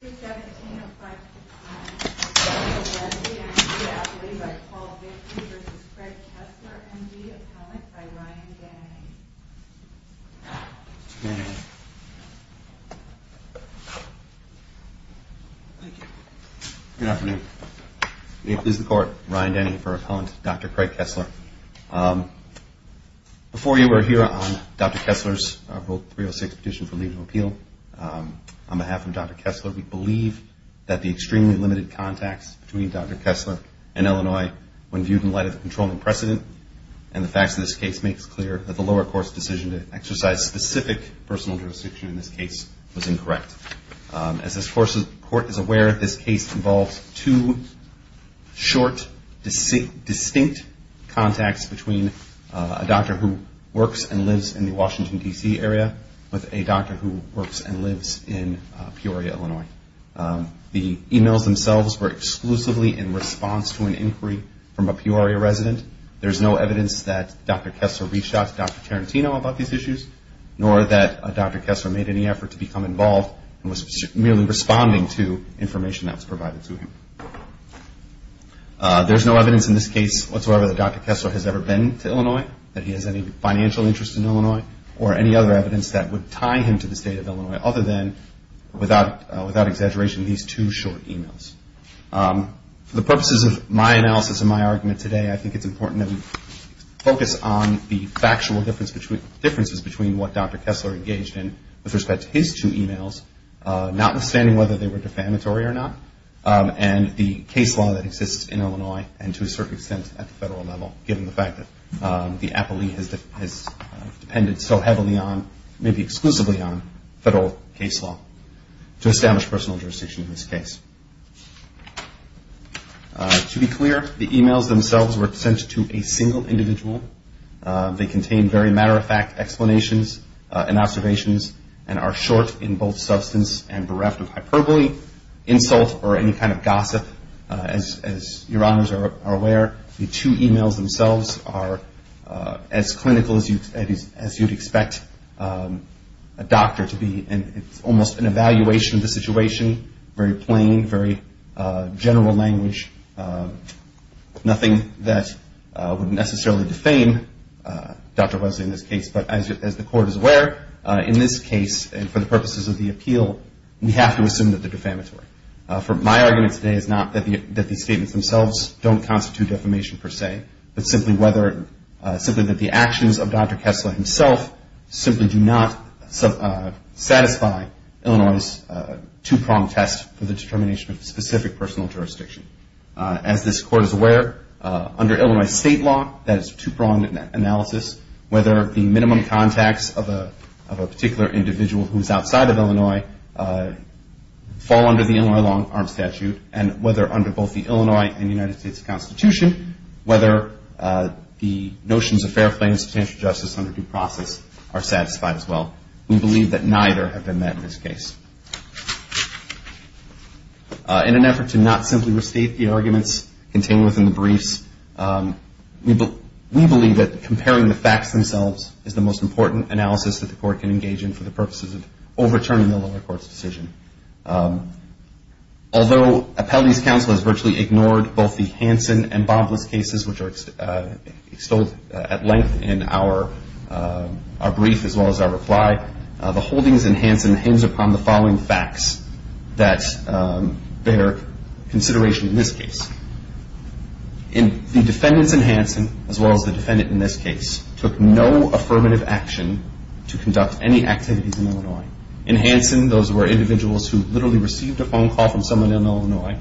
Good afternoon. This is the Court. Ryan Denny for Appellant, Dr. Craig Kessler. Before you were here on Dr. Kessler's Rule 306 Petition for Leave of Appeal. On behalf of Dr. Kessler, we'd like to thank you for being here today, and we'd also like to thank you for joining us today for this very important hearing. We believe that the extremely limited contacts between Dr. Kessler and Illinois, when viewed in light of the controlling precedent and the facts of this case, makes clear that the lower court's decision to exercise specific personal jurisdiction in this case was incorrect. As this Court is aware, this case involves two short, distinct contacts between a doctor who works and lives in the Washington, D.C. area with a doctor who works and lives in Peoria, Illinois. The emails themselves were exclusively in response to an inquiry from a Peoria resident. There's no evidence that Dr. Kessler reached out to Dr. Tarantino about these issues, nor that Dr. Kessler made any effort to become involved and was merely responding to information that was provided to him. There's no evidence in this case whatsoever that Dr. Kessler has ever been to Illinois, that he has any financial interest in Illinois, or any other evidence that would tie him to the state of Illinois other than, without exaggeration, these two short emails. For the purposes of my analysis and my argument today, I think it's important that we focus on the factual differences between what Dr. Kessler engaged in with respect to his two emails, notwithstanding whether they were defamatory or not, and the case law that exists in Illinois and, to a certain extent, at the federal level, given the fact that the appellee has depended so heavily on, maybe exclusively on, federal case law to establish personal jurisdiction in this case. To be clear, the emails themselves were sent to a single individual. They contain very matter-of-fact explanations and observations and are short in both substance and bereft of hyperbole, insult, or any kind of gossip. As your honors are aware, the two emails themselves are as clinical as you'd expect a doctor to be, and it's almost an evaluation of the situation, very plain, very general language, nothing that would necessarily defame Dr. Wesley in this case, but as the court is aware, in this case, and for the purposes of the appeal, we have to assume that they're defamatory. My argument today is not that these statements themselves don't constitute defamation per se, but simply that the actions of Dr. Kessler himself simply do not satisfy Illinois' two-pronged test for the determination of specific personal jurisdiction. As this court is aware, under Illinois state law, that is two-pronged analysis, whether the minimum contacts of a particular individual who is outside of Illinois fall under the Illinois long-arm statute, and whether under both the Illinois and United States Constitution, whether the notions of fair claim and substantial justice under due process are satisfied as well. We believe that neither have been met in this case. In an effort to not simply restate the arguments contained within the briefs, we believe that comparing the facts themselves is the most important analysis that the court can engage in for the purposes of overturning the lower court's decision. Although Appellee's counsel has virtually ignored both the Hansen and Bobless cases, which are extolled at length in our brief as well as our reply, the holdings in Hansen hinge upon the following facts that bear consideration in this case. First, the defendants in Hansen, as well as the defendant in this case, took no affirmative action to conduct any activities in Illinois. In Hansen, those were individuals who literally received a phone call from someone in Illinois,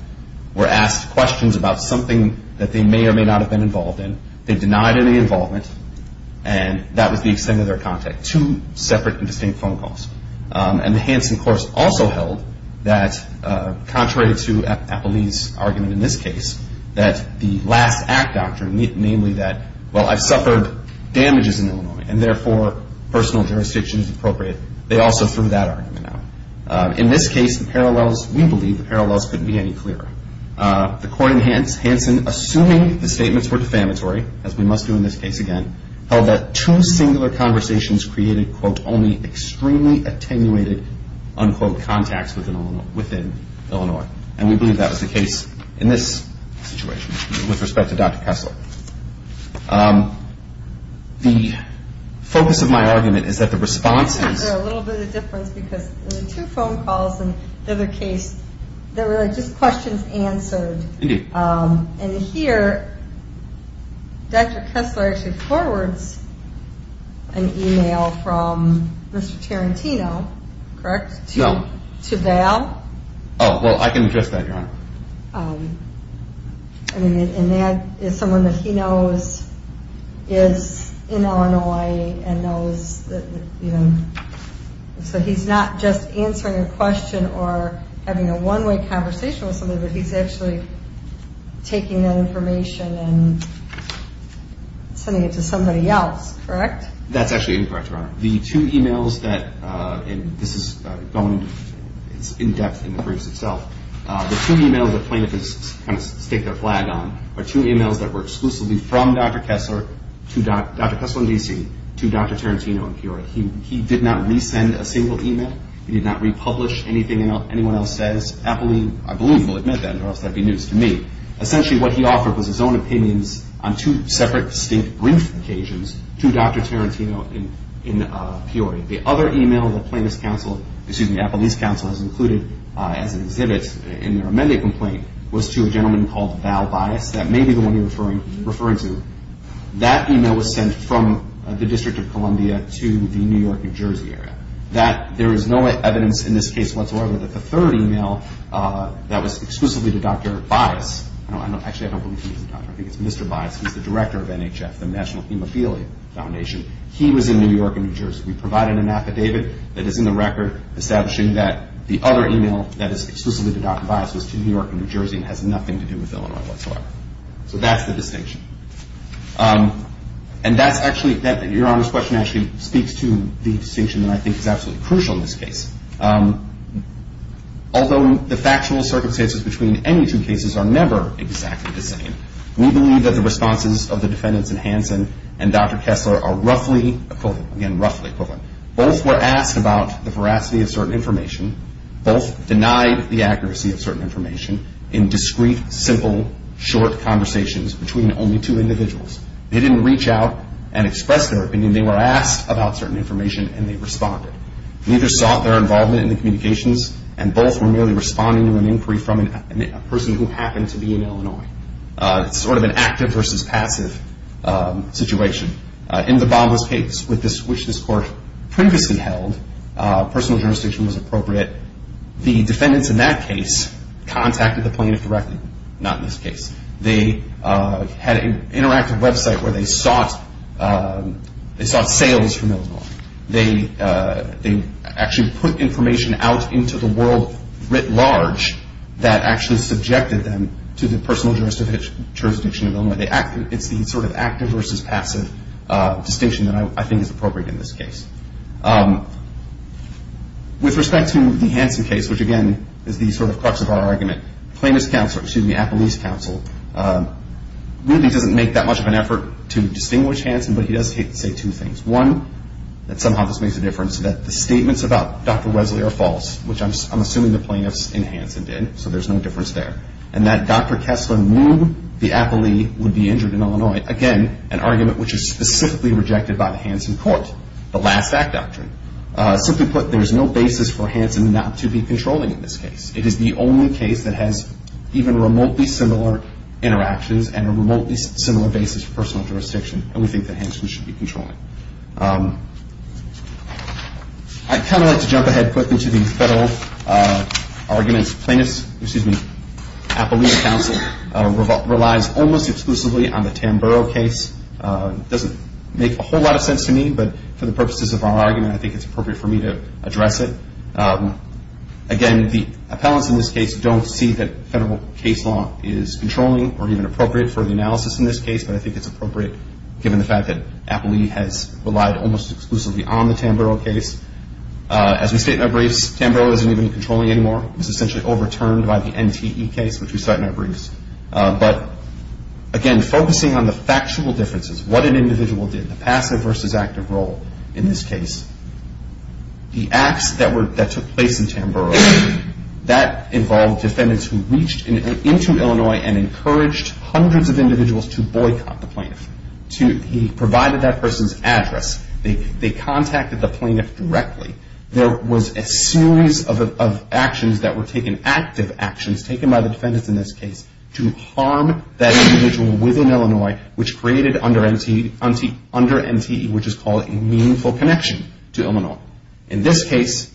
were asked questions about something that they may or may not have been involved in, they denied any involvement, and that was the extent of their contact. They had two separate and distinct phone calls. And Hansen, of course, also held that, contrary to Appellee's argument in this case, that the last act doctrine, namely that, well, I've suffered damages in Illinois, and therefore, personal jurisdiction is appropriate, they also threw that argument out. In this case, the parallels, we believe the parallels couldn't be any clearer. The court in Hansen, assuming the statements were defamatory, as we must do in this case again, held that two singular conversations created, quote, only extremely attenuated, unquote, contacts within Illinois. And we believe that was the case in this situation with respect to Dr. Kessler. The focus of my argument is that the response is... I think there's a little bit of difference because the two phone calls in the other case, they were just questions answered. Indeed. And here, Dr. Kessler actually forwards an email from Mr. Tarantino, correct? No. To Val. Oh, well, I can address that, Your Honor. And that is someone that he knows is in Illinois and knows that, you know... So he's not just answering a question or having a one-way conversation with somebody, but he's actually taking that information and sending it to somebody else, correct? That's actually incorrect, Your Honor. The two emails that... And this is going in depth in the briefs itself. The two emails that plaintiffs kind of stick their flag on are two emails that were exclusively from Dr. Kessler to Dr. Kessler in D.C. to Dr. Tarantino in Peoria. He did not resend a single email. He did not republish anything anyone else says. Appellee, I believe, will admit that, or else that would be news to me. Essentially what he offered was his own opinions on two separate distinct brief occasions to Dr. Tarantino in Peoria. The other email that Appellee's counsel has included as an exhibit in their amendment complaint was to a gentleman called Val Bias. That may be the one you're referring to. That email was sent from the District of Columbia to the New York, New Jersey area. There is no evidence in this case whatsoever that the third email that was exclusively to Dr. Bias... Actually, I don't believe he was a doctor. I think it's Mr. Bias who's the director of NHF, the National Hemophilia Foundation. He was in New York and New Jersey. We provided an affidavit that is in the record establishing that the other email that is exclusively to Dr. Bias was to New York and New Jersey and has nothing to do with Illinois whatsoever. So that's the distinction. And that's actually... Your Honor's question actually speaks to the distinction that I think is absolutely crucial in this case. Although the factual circumstances between any two cases are never exactly the same, we believe that the responses of the defendants in Hanson and Dr. Kessler are roughly equivalent. Again, roughly equivalent. Both were asked about the veracity of certain information. Both denied the accuracy of certain information in discreet, simple, short conversations between only two individuals. They didn't reach out and express their opinion. They were asked about certain information and they responded. Neither sought their involvement in the communications and both were merely responding to an inquiry from a person who happened to be in Illinois. It's sort of an active versus passive situation. In the Bambas case, which this Court previously held, personal jurisdiction was appropriate. The defendants in that case contacted the plaintiff directly. Not in this case. They had an interactive website where they sought sales from Illinois. They actually put information out into the world writ large that actually subjected them to the personal jurisdiction of Illinois. It's the sort of active versus passive distinction that I think is appropriate in this case. With respect to the Hanson case, which again is the sort of crux of our argument, the Appellee's counsel really doesn't make that much of an effort to distinguish Hanson, but he does say two things. One, that somehow this makes a difference, that the statements about Dr. Wesley are false, which I'm assuming the plaintiffs in Hanson did, so there's no difference there. And that Dr. Kessler knew the Appellee would be injured in Illinois. Again, an argument which is specifically rejected by the Hanson Court, the last act doctrine. Simply put, there's no basis for Hanson not to be controlling in this case. It is the only case that has even remotely similar interactions and a remotely similar basis for personal jurisdiction, and we think that Hanson should be controlling. I'd kind of like to jump ahead quickly to the federal arguments. Appellee's counsel relies almost exclusively on the Tamburo case. It doesn't make a whole lot of sense to me, but for the purposes of our argument, I think it's appropriate for me to address it. Again, the appellants in this case don't see that federal case law is controlling or even appropriate for the analysis in this case, but I think it's appropriate given the fact that Appellee has relied almost exclusively on the Tamburo case. As we state in our briefs, Tamburo isn't even controlling anymore. It's essentially overturned by the NTE case, which we cite in our briefs. But, again, focusing on the factual differences, what an individual did, the passive versus active role in this case, the acts that took place in Tamburo, that involved defendants who reached into Illinois and encouraged hundreds of individuals to boycott the plaintiff. He provided that person's address. They contacted the plaintiff directly. There was a series of actions that were taken, active actions taken by the defendants in this case, to harm that individual within Illinois, which created under NTE, which is called a meaningful connection to Illinois. In this case,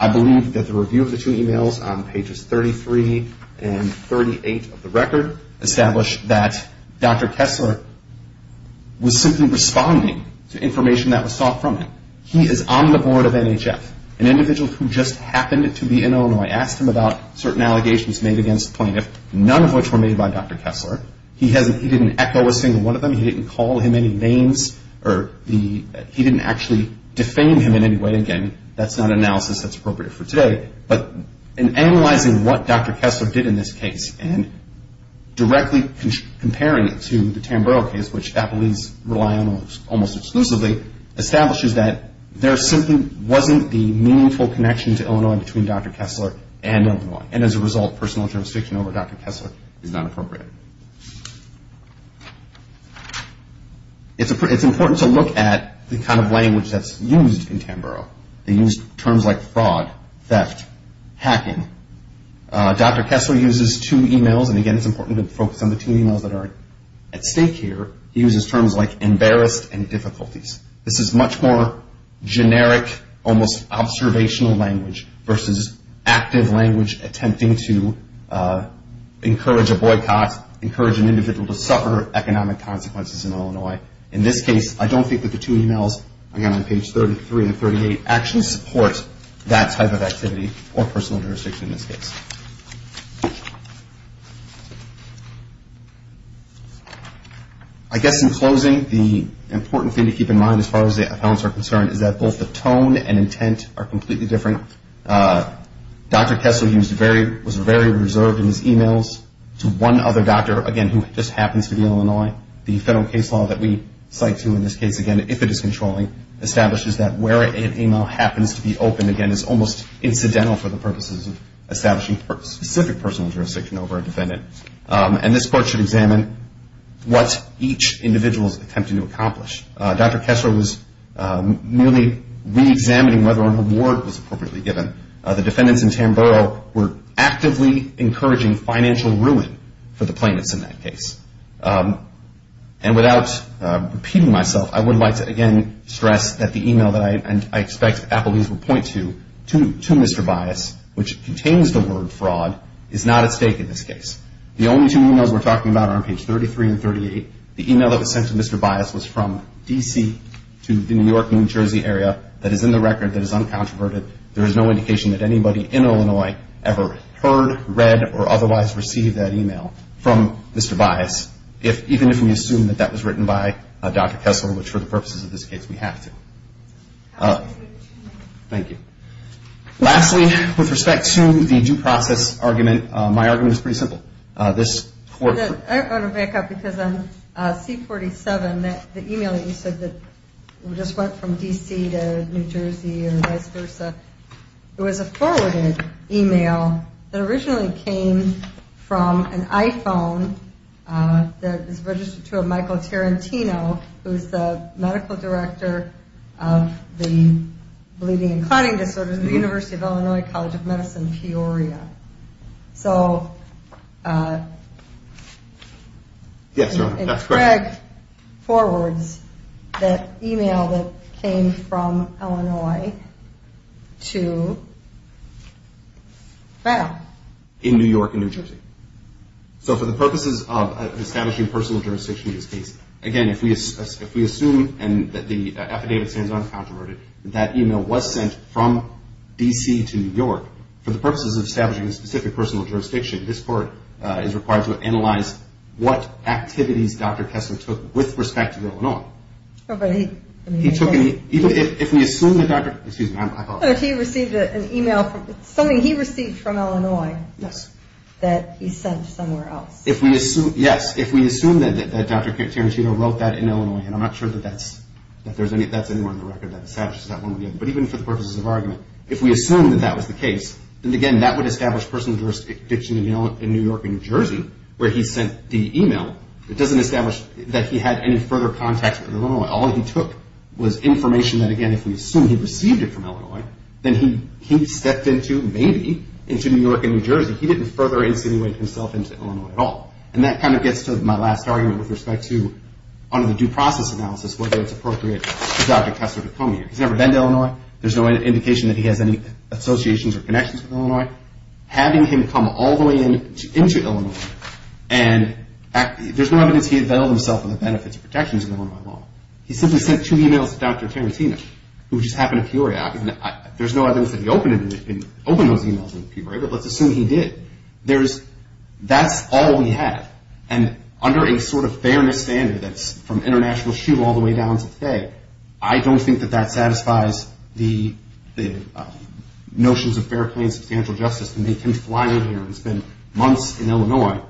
I believe that the review of the two emails on pages 33 and 38 of the record established that Dr. Kessler was simply responding to information that was sought from him. He is on the board of NHF. An individual who just happened to be in Illinois asked him about certain allegations made against the plaintiff, none of which were made by Dr. Kessler. He didn't echo a single one of them. He didn't call him any names or he didn't actually defame him in any way. Again, that's not an analysis that's appropriate for today. But in analyzing what Dr. Kessler did in this case and directly comparing it to the Tamburo case, which Appleby's rely on almost exclusively, establishes that there simply wasn't the meaningful connection to Illinois between Dr. Kessler and Illinois. And as a result, personal jurisdiction over Dr. Kessler is not appropriate. It's important to look at the kind of language that's used in Tamburo. They use terms like fraud, theft, hacking. Dr. Kessler uses two emails. And again, it's important to focus on the two emails that are at stake here. He uses terms like embarrassed and difficulties. This is much more generic, almost observational language versus active language attempting to encourage a boycott, encourage an individual to suffer economic consequences in Illinois. In this case, I don't think that the two emails, again on page 33 and 38, actually support that type of activity or personal jurisdiction in this case. I guess in closing, the important thing to keep in mind as far as the accounts are concerned is that both the tone and intent are completely different. Dr. Kessler was very reserved in his emails to one other doctor, again, who just happens to be Illinois. The federal case law that we cite to in this case, again, if it is controlling, establishes that where an email happens to be open, again, is almost incidental for the purposes of establishing specific personal jurisdiction over a defendant. And this court should examine what each individual is attempting to accomplish. Dr. Kessler was merely reexamining whether an award was appropriately given. The defendants in Tamboro were actively encouraging financial ruin for the plaintiffs in that case. And without repeating myself, I would like to again stress that the email that I expect Applebee's will point to, to Mr. Bias, which contains the word fraud, is not at stake in this case. The only two emails we're talking about are on page 33 and 38. The email that was sent to Mr. Bias was from D.C. to the New York, New Jersey area, that is in the record, that is uncontroverted. There is no indication that anybody in Illinois ever heard, read, or otherwise received that email from Mr. Bias, even if we assume that that was written by Dr. Kessler, which for the purposes of this case we have to. Thank you. Lastly, with respect to the due process argument, my argument is pretty simple. I want to back up because on C-47, the email that you said that just went from D.C. to New Jersey or vice versa, it was a forwarded email that originally came from an iPhone that was registered to a Michael Tarantino, who is the Medical Director of the Bleeding and Clotting Disorders at the University of Illinois College of Medicine, Peoria. So Craig forwards that email that came from Illinois to, well. So for the purposes of establishing personal jurisdiction in this case, again, if we assume that the affidavit stands uncontroverted, that email was sent from D.C. to New York, for the purposes of establishing a specific personal jurisdiction, this court is required to analyze what activities Dr. Kessler took with respect to Illinois. If we assume that Dr. Tarantino wrote that in Illinois, and I'm not sure that that's anywhere in the record that establishes that one way or the other, but even for the purposes of argument, if we assume that that was the case, then again, that would establish personal jurisdiction in New York and New Jersey where he sent the email. It doesn't establish that he had any further contact with Illinois. All he took was information that, again, if we assume he received it from Illinois, then he stepped into, maybe, into New York and New Jersey. He didn't further insinuate himself into Illinois at all. And that kind of gets to my last argument with respect to, under the due process analysis, whether it's appropriate for Dr. Kessler to come here. He's never been to Illinois. There's no indication that he has any associations or connections with Illinois. Having him come all the way into Illinois, and there's no evidence he availed himself of the benefits and protections of Illinois law. He simply sent two emails to Dr. Tarantino, which just happened to be where he was. There's no evidence that he opened those emails, but let's assume he did. That's all we have. And under a sort of fairness standard that's from international shoe all the way down to today, I don't think that that satisfies the notions of fair, plain, substantial justice to make him fly in here and spend months in Illinois.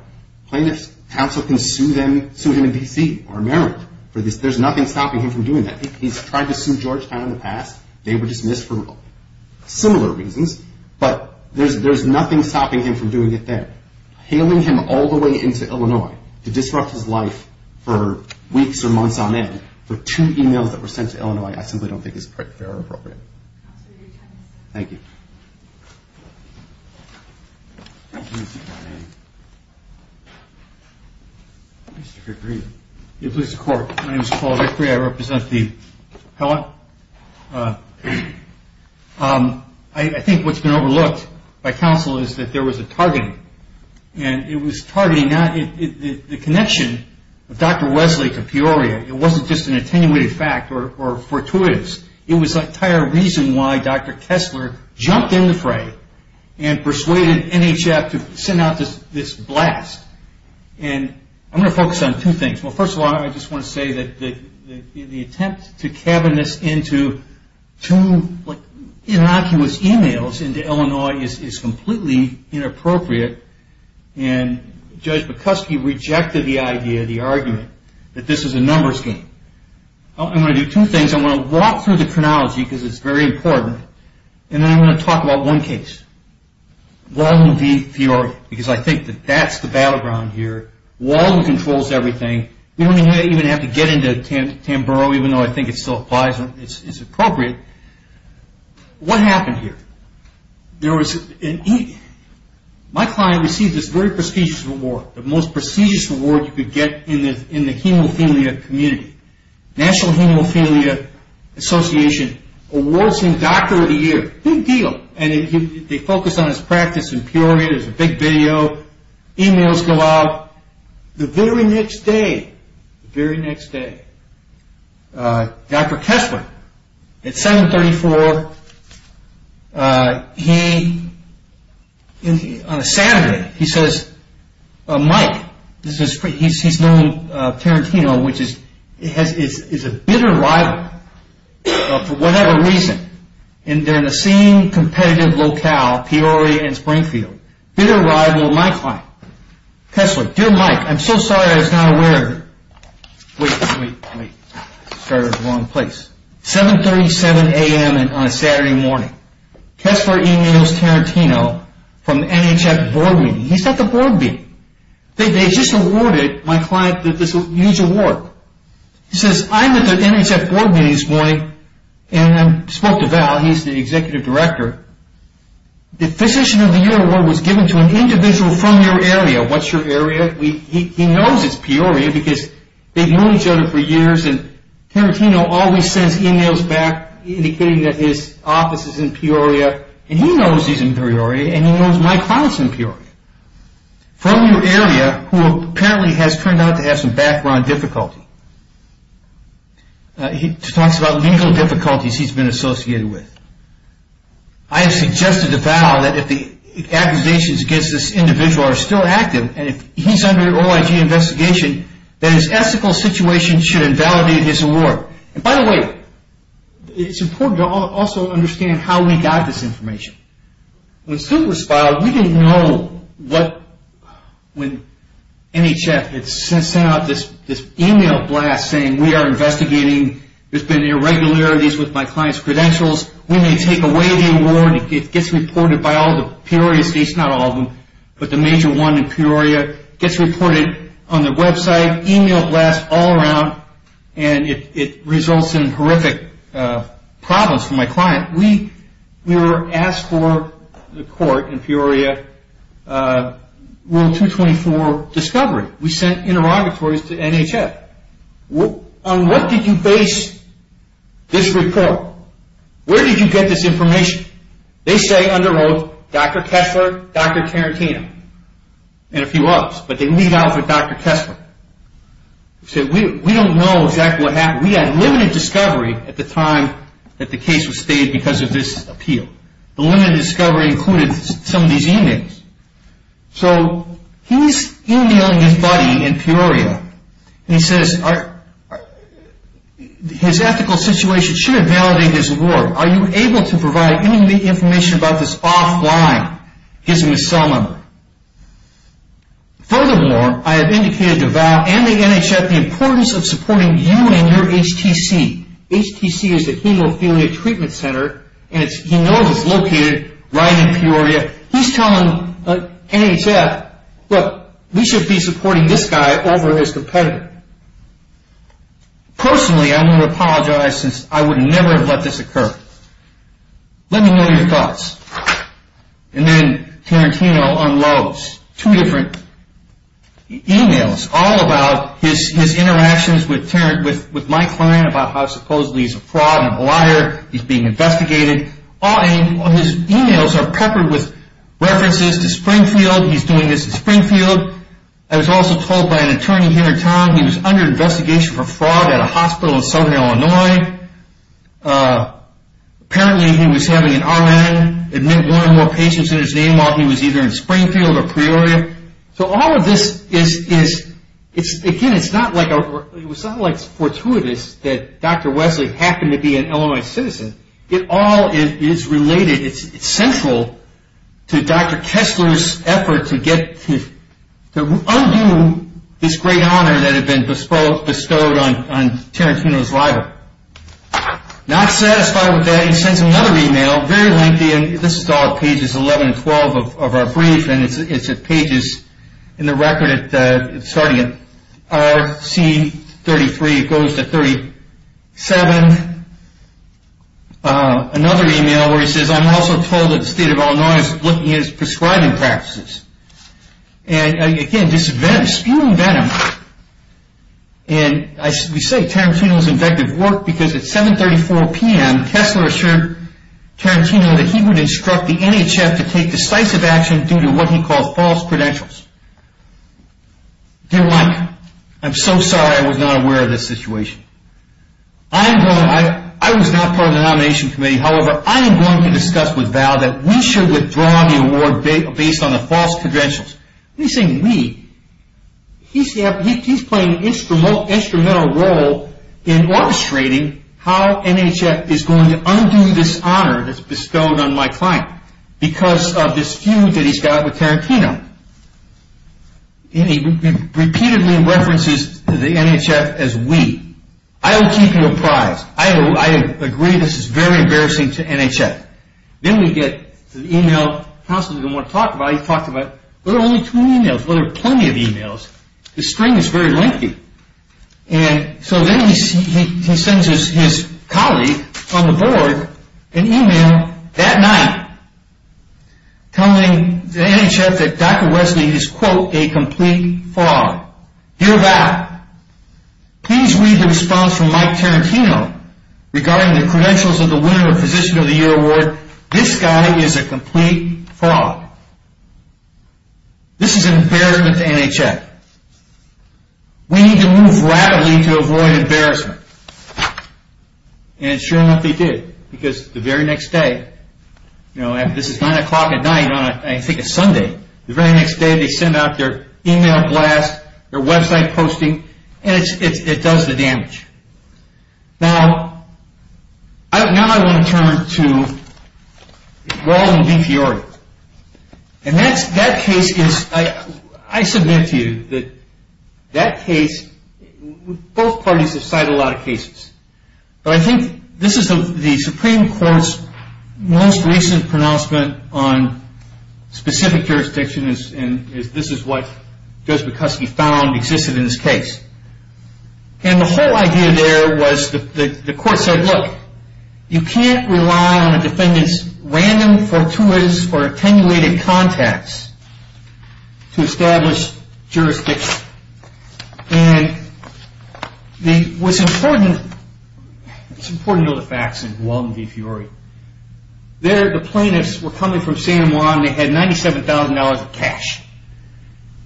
Plaintiffs' counsel can sue him in D.C. or America. There's nothing stopping him from doing that. He's tried to sue Georgetown in the past. They were dismissed for similar reasons. But there's nothing stopping him from doing it there. Hailing him all the way into Illinois to disrupt his life for weeks or months on end with two emails that were sent to Illinois, I simply don't think it's fair or appropriate. Thank you. Mr. Vickery. My name is Paul Vickery. I represent the Helen. I think what's been overlooked by counsel is that there was a targeting. And it was targeting the connection of Dr. Wesley to Peoria. It wasn't just an attenuated fact or fortuitous. It was the entire reason why Dr. Kessler jumped in the fray and persuaded NHF to send out this blast. And I'm going to focus on two things. Well, first of all, I just want to say that the attempt to cabin this into two innocuous emails into Illinois is completely inappropriate. And Judge Bukuski rejected the idea, the argument, that this is a numbers game. I'm going to do two things. I'm going to walk through the chronology because it's very important. And then I'm going to talk about one case. Walden v. Peoria. Because I think that that's the battleground here. Walden controls everything. We don't even have to get into Tamboro even though I think it still applies. It's appropriate. What happened here? My client received this very prestigious award, the most prestigious award you could get in the hemophilia community. National Hemophilia Association Awards for Doctor of the Year. Big deal. And they focused on his practice in Peoria. There's a big video. Emails go out. The very next day, the very next day, Dr. Kessler, at 734, on a Saturday, he says, Mike, he's known Tarantino, which is a bitter rival for whatever reason. And they're in the same competitive locale, Peoria and Springfield. Bitter rival of my client. Kessler, dear Mike, I'm so sorry I was not aware of it. Wait, wait, wait. Started in the wrong place. 737 a.m. on a Saturday morning. Kessler emails Tarantino from the NHF board meeting. He's at the board meeting. They just awarded my client this huge award. He says, I'm at the NHF board meeting this morning, and I spoke to Val. He's the executive director. The physician of the year award was given to an individual from your area. What's your area? He knows it's Peoria because they've known each other for years, and Tarantino always sends emails back indicating that his office is in Peoria. And he knows he's in Peoria, and he knows my client's in Peoria. From your area, who apparently has turned out to have some background difficulty. He talks about legal difficulties he's been associated with. I have suggested to Val that if the accusations against this individual are still active, and if he's under OIG investigation, that his ethical situation should invalidate his award. And by the way, it's important to also understand how we got this information. When Sue responded, we didn't know when NHF had sent out this email blast saying, we are investigating. There's been irregularities with my client's credentials. We may take away the award. It gets reported by all the Peoria states, not all of them, but the major one in Peoria. It gets reported on their website, email blasts all around, and it results in horrific problems for my client. We were asked for the court in Peoria rule 224 discovery. We sent interrogatories to NHF. On what did you base this report? Where did you get this information? They say under oath, Dr. Kessler, Dr. Tarantino, and a few others, but they lead off with Dr. Kessler. We don't know exactly what happened. We had limited discovery at the time that the case was stated because of this appeal. The limited discovery included some of these emails. So he's emailing his buddy in Peoria. He says his ethical situation should invalidate his award. Are you able to provide any information about this offline? He gives him his cell number. Furthermore, I have indicated to Val and the NHF the importance of supporting you and your HTC. HTC is the hemophilia treatment center, and he knows it's located right in Peoria. He's telling NHF, look, we should be supporting this guy over his competitor. Personally, I'm going to apologize since I would never have let this occur. Let me know your thoughts. And then Tarantino unloads two different emails, all about his interactions with my client about how supposedly he's a fraud and a liar. He's being investigated. His emails are peppered with references to Springfield. He's doing this in Springfield. I was also told by an attorney here in town he was under investigation for fraud at a hospital in southern Illinois. Apparently he was having an RN admit one or more patients in his name while he was either in Springfield or Peoria. So all of this is, again, it's not like it's fortuitous that Dr. Wesley happened to be an Illinois citizen. It all is related. It's central to Dr. Kessler's effort to undo this great honor that had been bestowed on Tarantino's libel. Not satisfied with that, he sends another email, very lengthy, and this is all pages 11 and 12 of our brief, and it's pages in the record starting at RC33. It goes to 37. Another email where he says, I'm also told that the state of Illinois is looking at his prescribing practices. And, again, this is venom, spewing venom. And we say Tarantino's invective worked because at 7.34 p.m. Dr. Kessler assured Tarantino that he would instruct the NHF to take decisive action due to what he called false credentials. Dear Mike, I'm so sorry I was not aware of this situation. I was not part of the nomination committee. However, I am going to discuss with Val that we should withdraw the award based on the false credentials. He's saying we. He's playing an instrumental role in orchestrating how NHF is going to undo this honor that's bestowed on my client because of this feud that he's got with Tarantino. He repeatedly references the NHF as we. I will keep you apprised. I agree this is very embarrassing to NHF. Then we get an email. Counselor didn't want to talk about it. He talked about there are only two emails. There are plenty of emails. The string is very lengthy. And so then he sends his colleague on the board an email that night telling the NHF that Dr. Wesley is, quote, a complete fraud. Dear Val, please read the response from Mike Tarantino regarding the credentials of the winner of Physician of the Year Award. This guy is a complete fraud. This is an embarrassment to NHF. We need to move rapidly to avoid embarrassment. And sure enough, they did. Because the very next day, this is 9 o'clock at night on I think a Sunday. The very next day, they send out their email blast, their website posting, and it does the damage. Now I want to turn to Walden v. Fiore. And that case is, I submit to you that that case, both parties have cited a lot of cases. But I think this is the Supreme Court's most recent pronouncement on specific jurisdiction, and this is what Judge Bukoski found existed in this case. And the whole idea there was the court said, look, you can't rely on a defendant's random, fortuitous, or attenuated contacts to establish jurisdiction. And what's important, it's important to know the facts in Walden v. Fiore. There, the plaintiffs were coming from San Juan. They had $97,000 of cash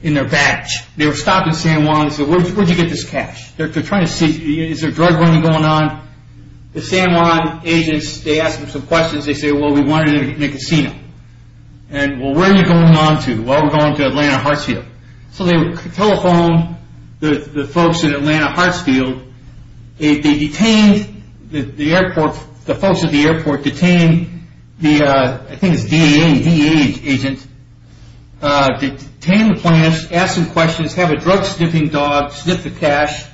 in their badge. They were stopped in San Juan and said, where did you get this cash? They're trying to see, is there drug running going on? The San Juan agents, they asked them some questions. They said, well, we wanted it in a casino. And, well, where are you going on to? Well, we're going to Atlanta Hartsfield. So they telephoned the folks at Atlanta Hartsfield. They detained the folks at the airport, detained the, I think it was DEA agent, detained the plaintiffs, asked them questions, had a drug-sniffing dog sniff the cash.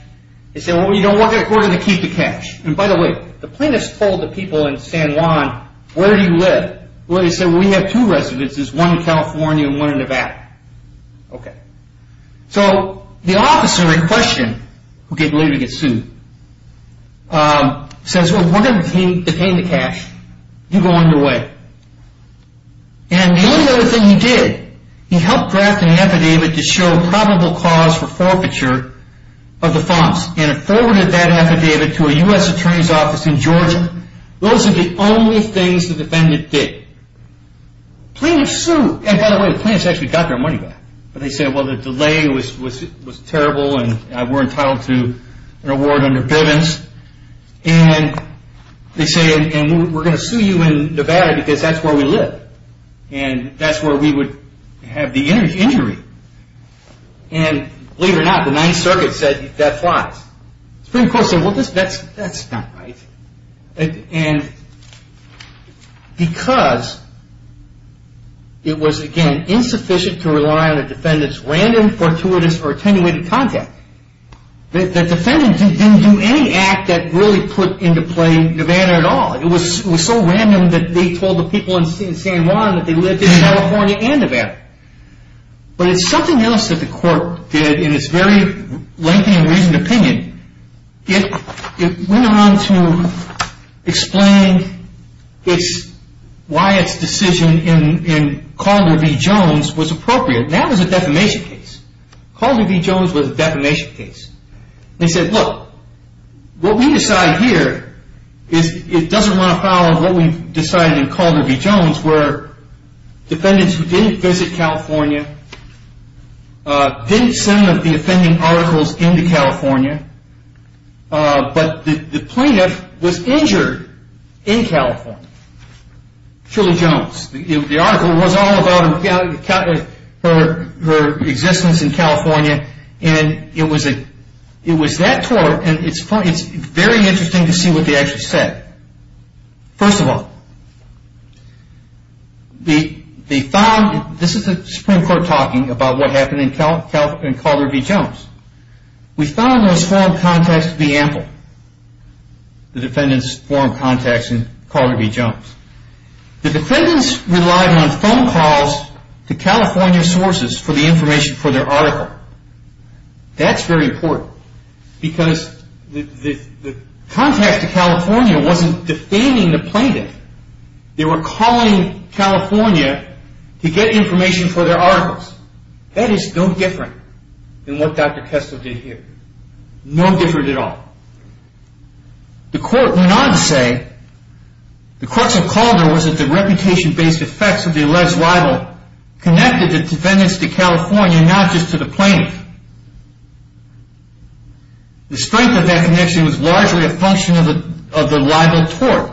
They said, well, we're going to keep the cash. And, by the way, the plaintiffs told the people in San Juan, where do you live? Well, they said, well, we have two residences, one in California and one in Nevada. Okay. So the officer in question, who gave the letter to get sued, says, well, we're going to detain the cash. You go on your way. And the only other thing he did, he helped draft an affidavit to show probable cause for forfeiture of the funds and forwarded that affidavit to a U.S. attorney's office in Georgia. Those are the only things the defendant did. Plaintiffs sued. And, by the way, the plaintiffs actually got their money back. But they said, well, the delay was terrible and we're entitled to an award under Bivens. And they said, and we're going to sue you in Nevada because that's where we live. And that's where we would have the injury. And, believe it or not, the Ninth Circuit said that flies. The Supreme Court said, well, that's not right. And because it was, again, insufficient to rely on the defendant's random, fortuitous, or attenuated contact, the defendant didn't do any act that really put into play Nevada at all. It was so random that they told the people in San Juan that they lived in California and Nevada. But it's something else that the court did in its very lengthy and reasoned opinion. It went on to explain why its decision in Calder v. Jones was appropriate. That was a defamation case. Calder v. Jones was a defamation case. They said, look, what we decide here is it doesn't run afoul of what we decided in Calder v. Jones, where defendants who didn't visit California, didn't send the offending articles into California, but the plaintiff was injured in California, Shirley Jones. The article was all about her existence in California. And it was that tort. And it's very interesting to see what they actually said. First of all, this is the Supreme Court talking about what happened in Calder v. Jones. We found those form contacts to be ample. The defendants formed contacts in Calder v. Jones. The defendants relied on phone calls to California sources for the information for their article. That's very important. Because the contact to California wasn't defaming the plaintiff. They were calling California to get information for their articles. That is no different than what Dr. Kessler did here. No different at all. The court went on to say, the courts of Calder was that the reputation-based effects of the alleged rival connected the defendants to California, not just to the plaintiff. The strength of that connection was largely a function of the rival tort.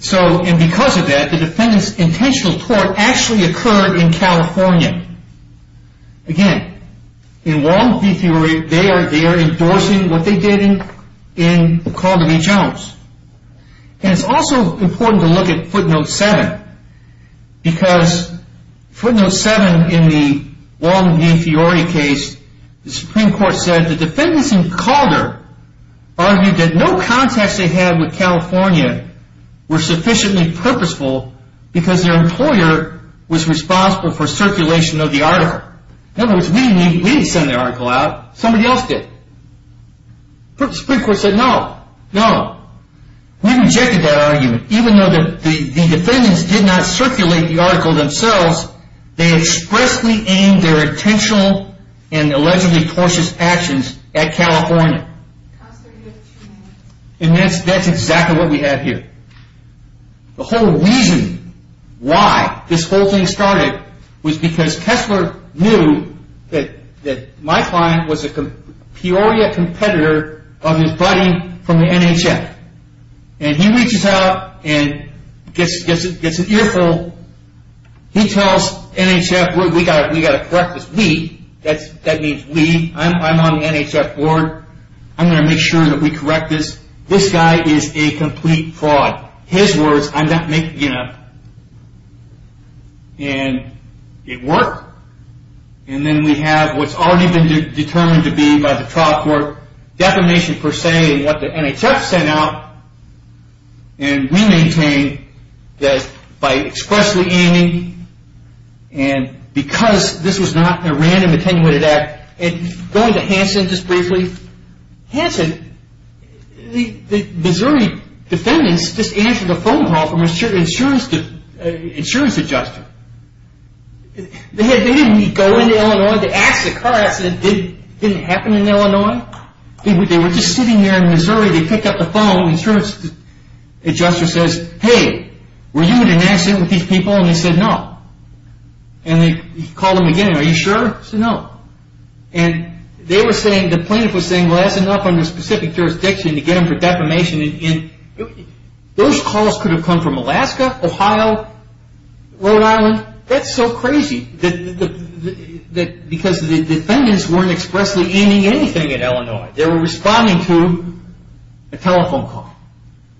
So, and because of that, the defendants' intentional tort actually occurred in California. Again, in Wong v. Fury, they are endorsing what they did in Calder v. Jones. And it's also important to look at footnote 7. Because footnote 7 in the Wong v. Fury case, the Supreme Court said the defendants in Calder argued that no contacts they had with California were sufficiently purposeful because their employer was responsible for circulation of the article. In other words, we didn't send the article out. Somebody else did. The Supreme Court said no, no. We rejected that argument. Even though the defendants did not circulate the article themselves, they expressly aimed their intentional and allegedly tortious actions at California. And that's exactly what we have here. The whole reason why this whole thing started was because Kessler knew that my client was a Peoria competitor of his buddy from the NHF. And he reaches out and gets an earful. He tells NHF, we've got to correct this. We, that means we. I'm on the NHF board. I'm going to make sure that we correct this. This guy is a complete fraud. His words, I'm not making up. And it worked. And then we have what's already been determined to be by the trial court defamation per se that the NHF sent out. And we maintain that by expressly aiming and because this was not a random attenuated act. Going to Hanson just briefly. Hanson, the Missouri defendants just answered a phone call from an insurance adjuster. They didn't go into Illinois to ask the car accident didn't happen in Illinois. They were just sitting there in Missouri. They picked up the phone. Insurance adjuster says, hey, were you in an accident with these people? And they said no. And he called them again. Are you sure? He said no. And they were saying, the plaintiff was saying, well that's enough under specific jurisdiction to get them for defamation. Those calls could have come from Alaska, Ohio, Rhode Island. That's so crazy. Because the defendants weren't expressly aiming anything at Illinois. They were responding to a telephone call.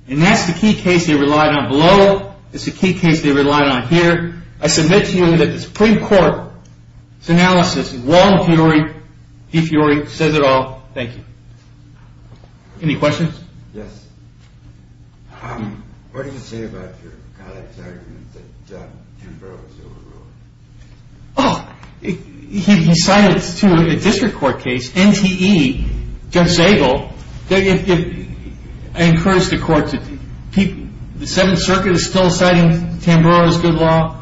And that's the key case they relied on below. It's the key case they relied on here. I submit to you that the Supreme Court's analysis, Warren Furey, he says it all. Thank you. Any questions? Yes. What did he say about your colleague's argument that Tamburo was illegal? Oh, he cited to a district court case, NTE, Judge Zagel. I encourage the court to keep, the Seventh Circuit is still citing Tamburo as good law.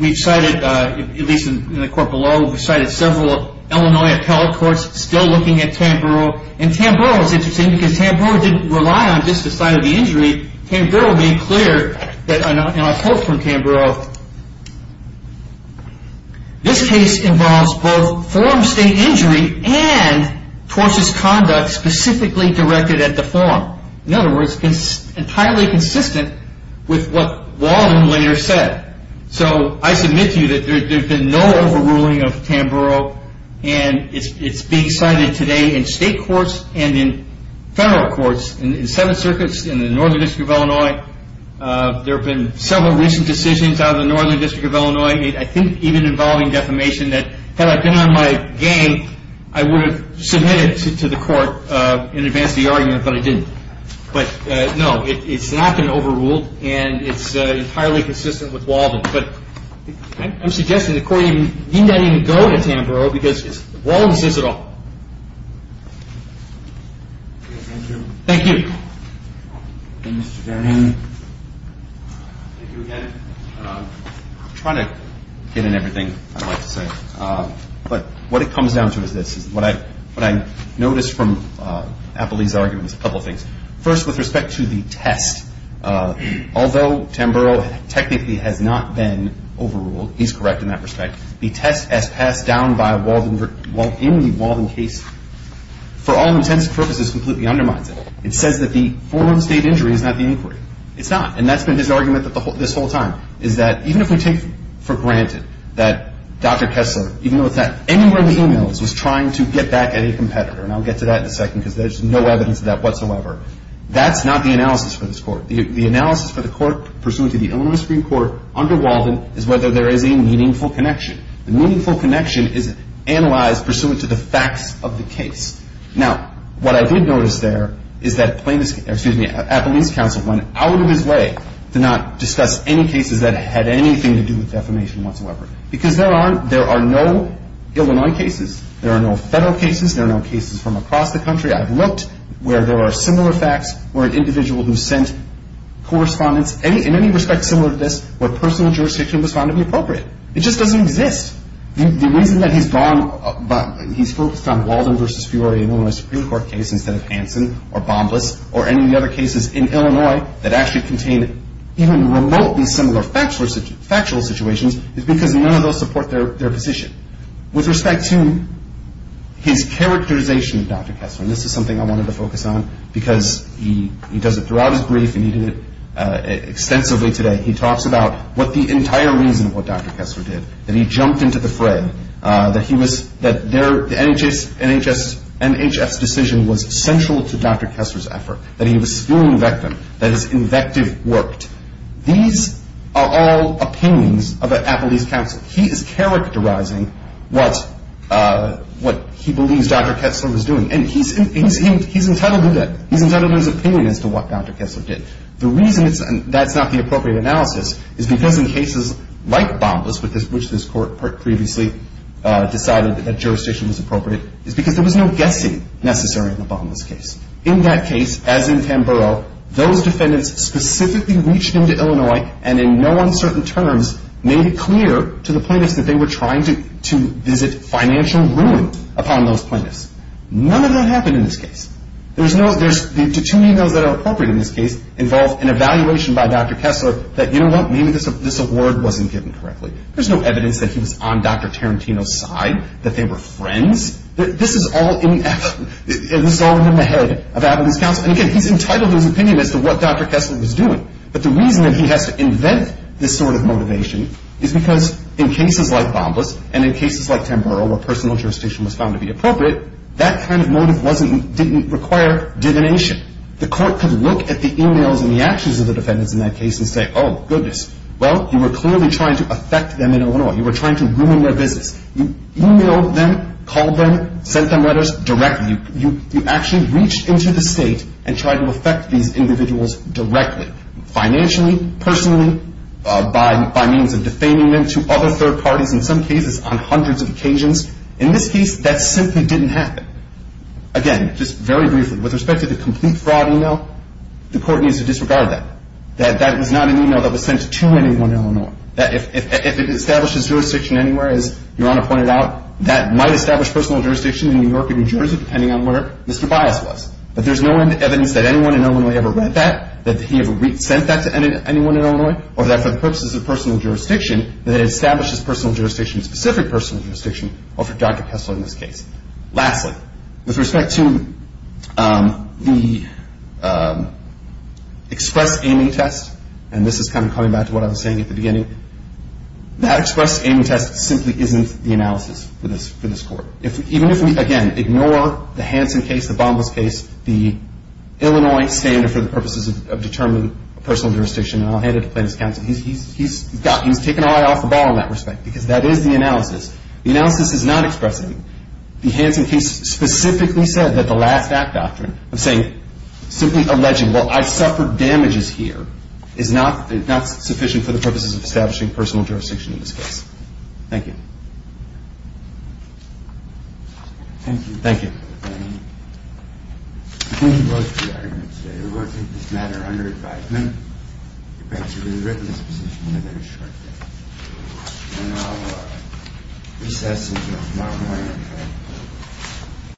We've cited, at least in the court below, we've cited several Illinois appellate courts still looking at Tamburo. And Tamburo is interesting because Tamburo didn't rely on just the site of the injury. Tamburo being clear, and I quote from Tamburo, this case involves both form state injury and tortious conduct specifically directed at the form. In other words, entirely consistent with what Walden later said. So I submit to you that there's been no overruling of Tamburo and it's being cited today in state courts and in federal courts. In the Seventh Circuit, in the Northern District of Illinois, there have been several recent decisions out of the Northern District of Illinois, I think even involving defamation, that had I been on my game, I would have submitted to the court in advance of the argument, but I didn't. But no, it's not been overruled and it's entirely consistent with Walden. But I'm suggesting the court need not even go to Tamburo because Walden says it all. Thank you. Thank you again. I'm trying to get in everything I'd like to say. But what it comes down to is this. What I noticed from Appley's argument is a couple of things. First, with respect to the test, although Tamburo technically has not been overruled, he's correct in that respect, the test as passed down in the Walden case, for all intents and purposes, completely undermines it. It says that the form of state injury is not the inquiry. It's not, and that's been his argument this whole time, is that even if we take for granted that Dr. Kessler, even though it's not anywhere in the emails, was trying to get back at a competitor, and I'll get to that in a second because there's no evidence of that whatsoever, that's not the analysis for this court. The analysis for the court pursuant to the Illinois Supreme Court under Walden is whether there is a meaningful connection. The meaningful connection is analyzed pursuant to the facts of the case. Now, what I did notice there is that Appley's counsel went out of his way to not discuss any cases that had anything to do with defamation whatsoever because there are no Illinois cases. There are no federal cases. There are no cases from across the country. I've looked where there are similar facts, where an individual who sent correspondence, in any respect similar to this, where personal jurisdiction was found to be appropriate. It just doesn't exist. The reason that he's focused on Walden v. Fury in an Illinois Supreme Court case instead of Hanson or Bombas or any of the other cases in Illinois that actually contain even remotely similar factual situations is because none of those support their position. With respect to his characterization of Dr. Kessler, and this is something I wanted to focus on because he does it throughout his brief and he did it extensively today, he talks about what the entire reason of what Dr. Kessler did, that he jumped into the fray, that the NHS decision was central to Dr. Kessler's effort, that he was a schooling victim, that his invective worked. These are all opinions of Appley's counsel. He is characterizing what he believes Dr. Kessler was doing. And he's entitled to that. He's entitled to his opinion as to what Dr. Kessler did. The reason that's not the appropriate analysis is because in cases like Bombas, which this Court previously decided that jurisdiction was appropriate, is because there was no guessing necessary in the Bombas case. In that case, as in Tamboro, those defendants specifically reached into Illinois and in no uncertain terms made it clear to the plaintiffs that they were trying to visit financial ruin upon those plaintiffs. None of that happened in this case. The two emails that are appropriate in this case involve an evaluation by Dr. Kessler that, you know what, maybe this award wasn't given correctly. There's no evidence that he was on Dr. Tarantino's side, that they were friends. This is all in the head of Appley's counsel. And again, he's entitled to his opinion as to what Dr. Kessler was doing. But the reason that he has to invent this sort of motivation is because in cases like Bombas and in cases like Tamboro where personal jurisdiction was found to be appropriate, that kind of motive didn't require divination. The Court could look at the emails and the actions of the defendants in that case and say, oh, goodness, well, you were clearly trying to affect them in Illinois. You were trying to ruin their business. You emailed them, called them, sent them letters directly. You actually reached into the state and tried to affect these individuals directly, financially, personally, by means of defaming them to other third parties, in some cases on hundreds of occasions. In this case, that simply didn't happen. Again, just very briefly, with respect to the complete fraud email, the Court needs to disregard that. That was not an email that was sent to anyone in Illinois. If it establishes jurisdiction anywhere, as Your Honor pointed out, that might establish personal jurisdiction in New York or New Jersey, depending on where Mr. Bias was. But there's no evidence that anyone in Illinois ever read that, that he ever sent that to anyone in Illinois, or that for the purposes of personal jurisdiction, that it establishes personal jurisdiction, specific personal jurisdiction, or for Dr. Kessler in this case. Lastly, with respect to the express aiming test, and this is kind of coming back to what I was saying at the beginning, that express aiming test simply isn't the analysis for this Court. Even if we, again, ignore the Hansen case, the Bambos case, the Illinois standard for the purposes of determining personal jurisdiction, and I'll hand it to Plaintiff's counsel, he's taken our eye off the ball in that respect, because that is the analysis. The analysis is not expressive. The Hansen case specifically said that the last act doctrine of saying, simply alleging, well, I suffered damages here, is not sufficient for the purposes of establishing personal jurisdiction in this case. Thank you. Thank you.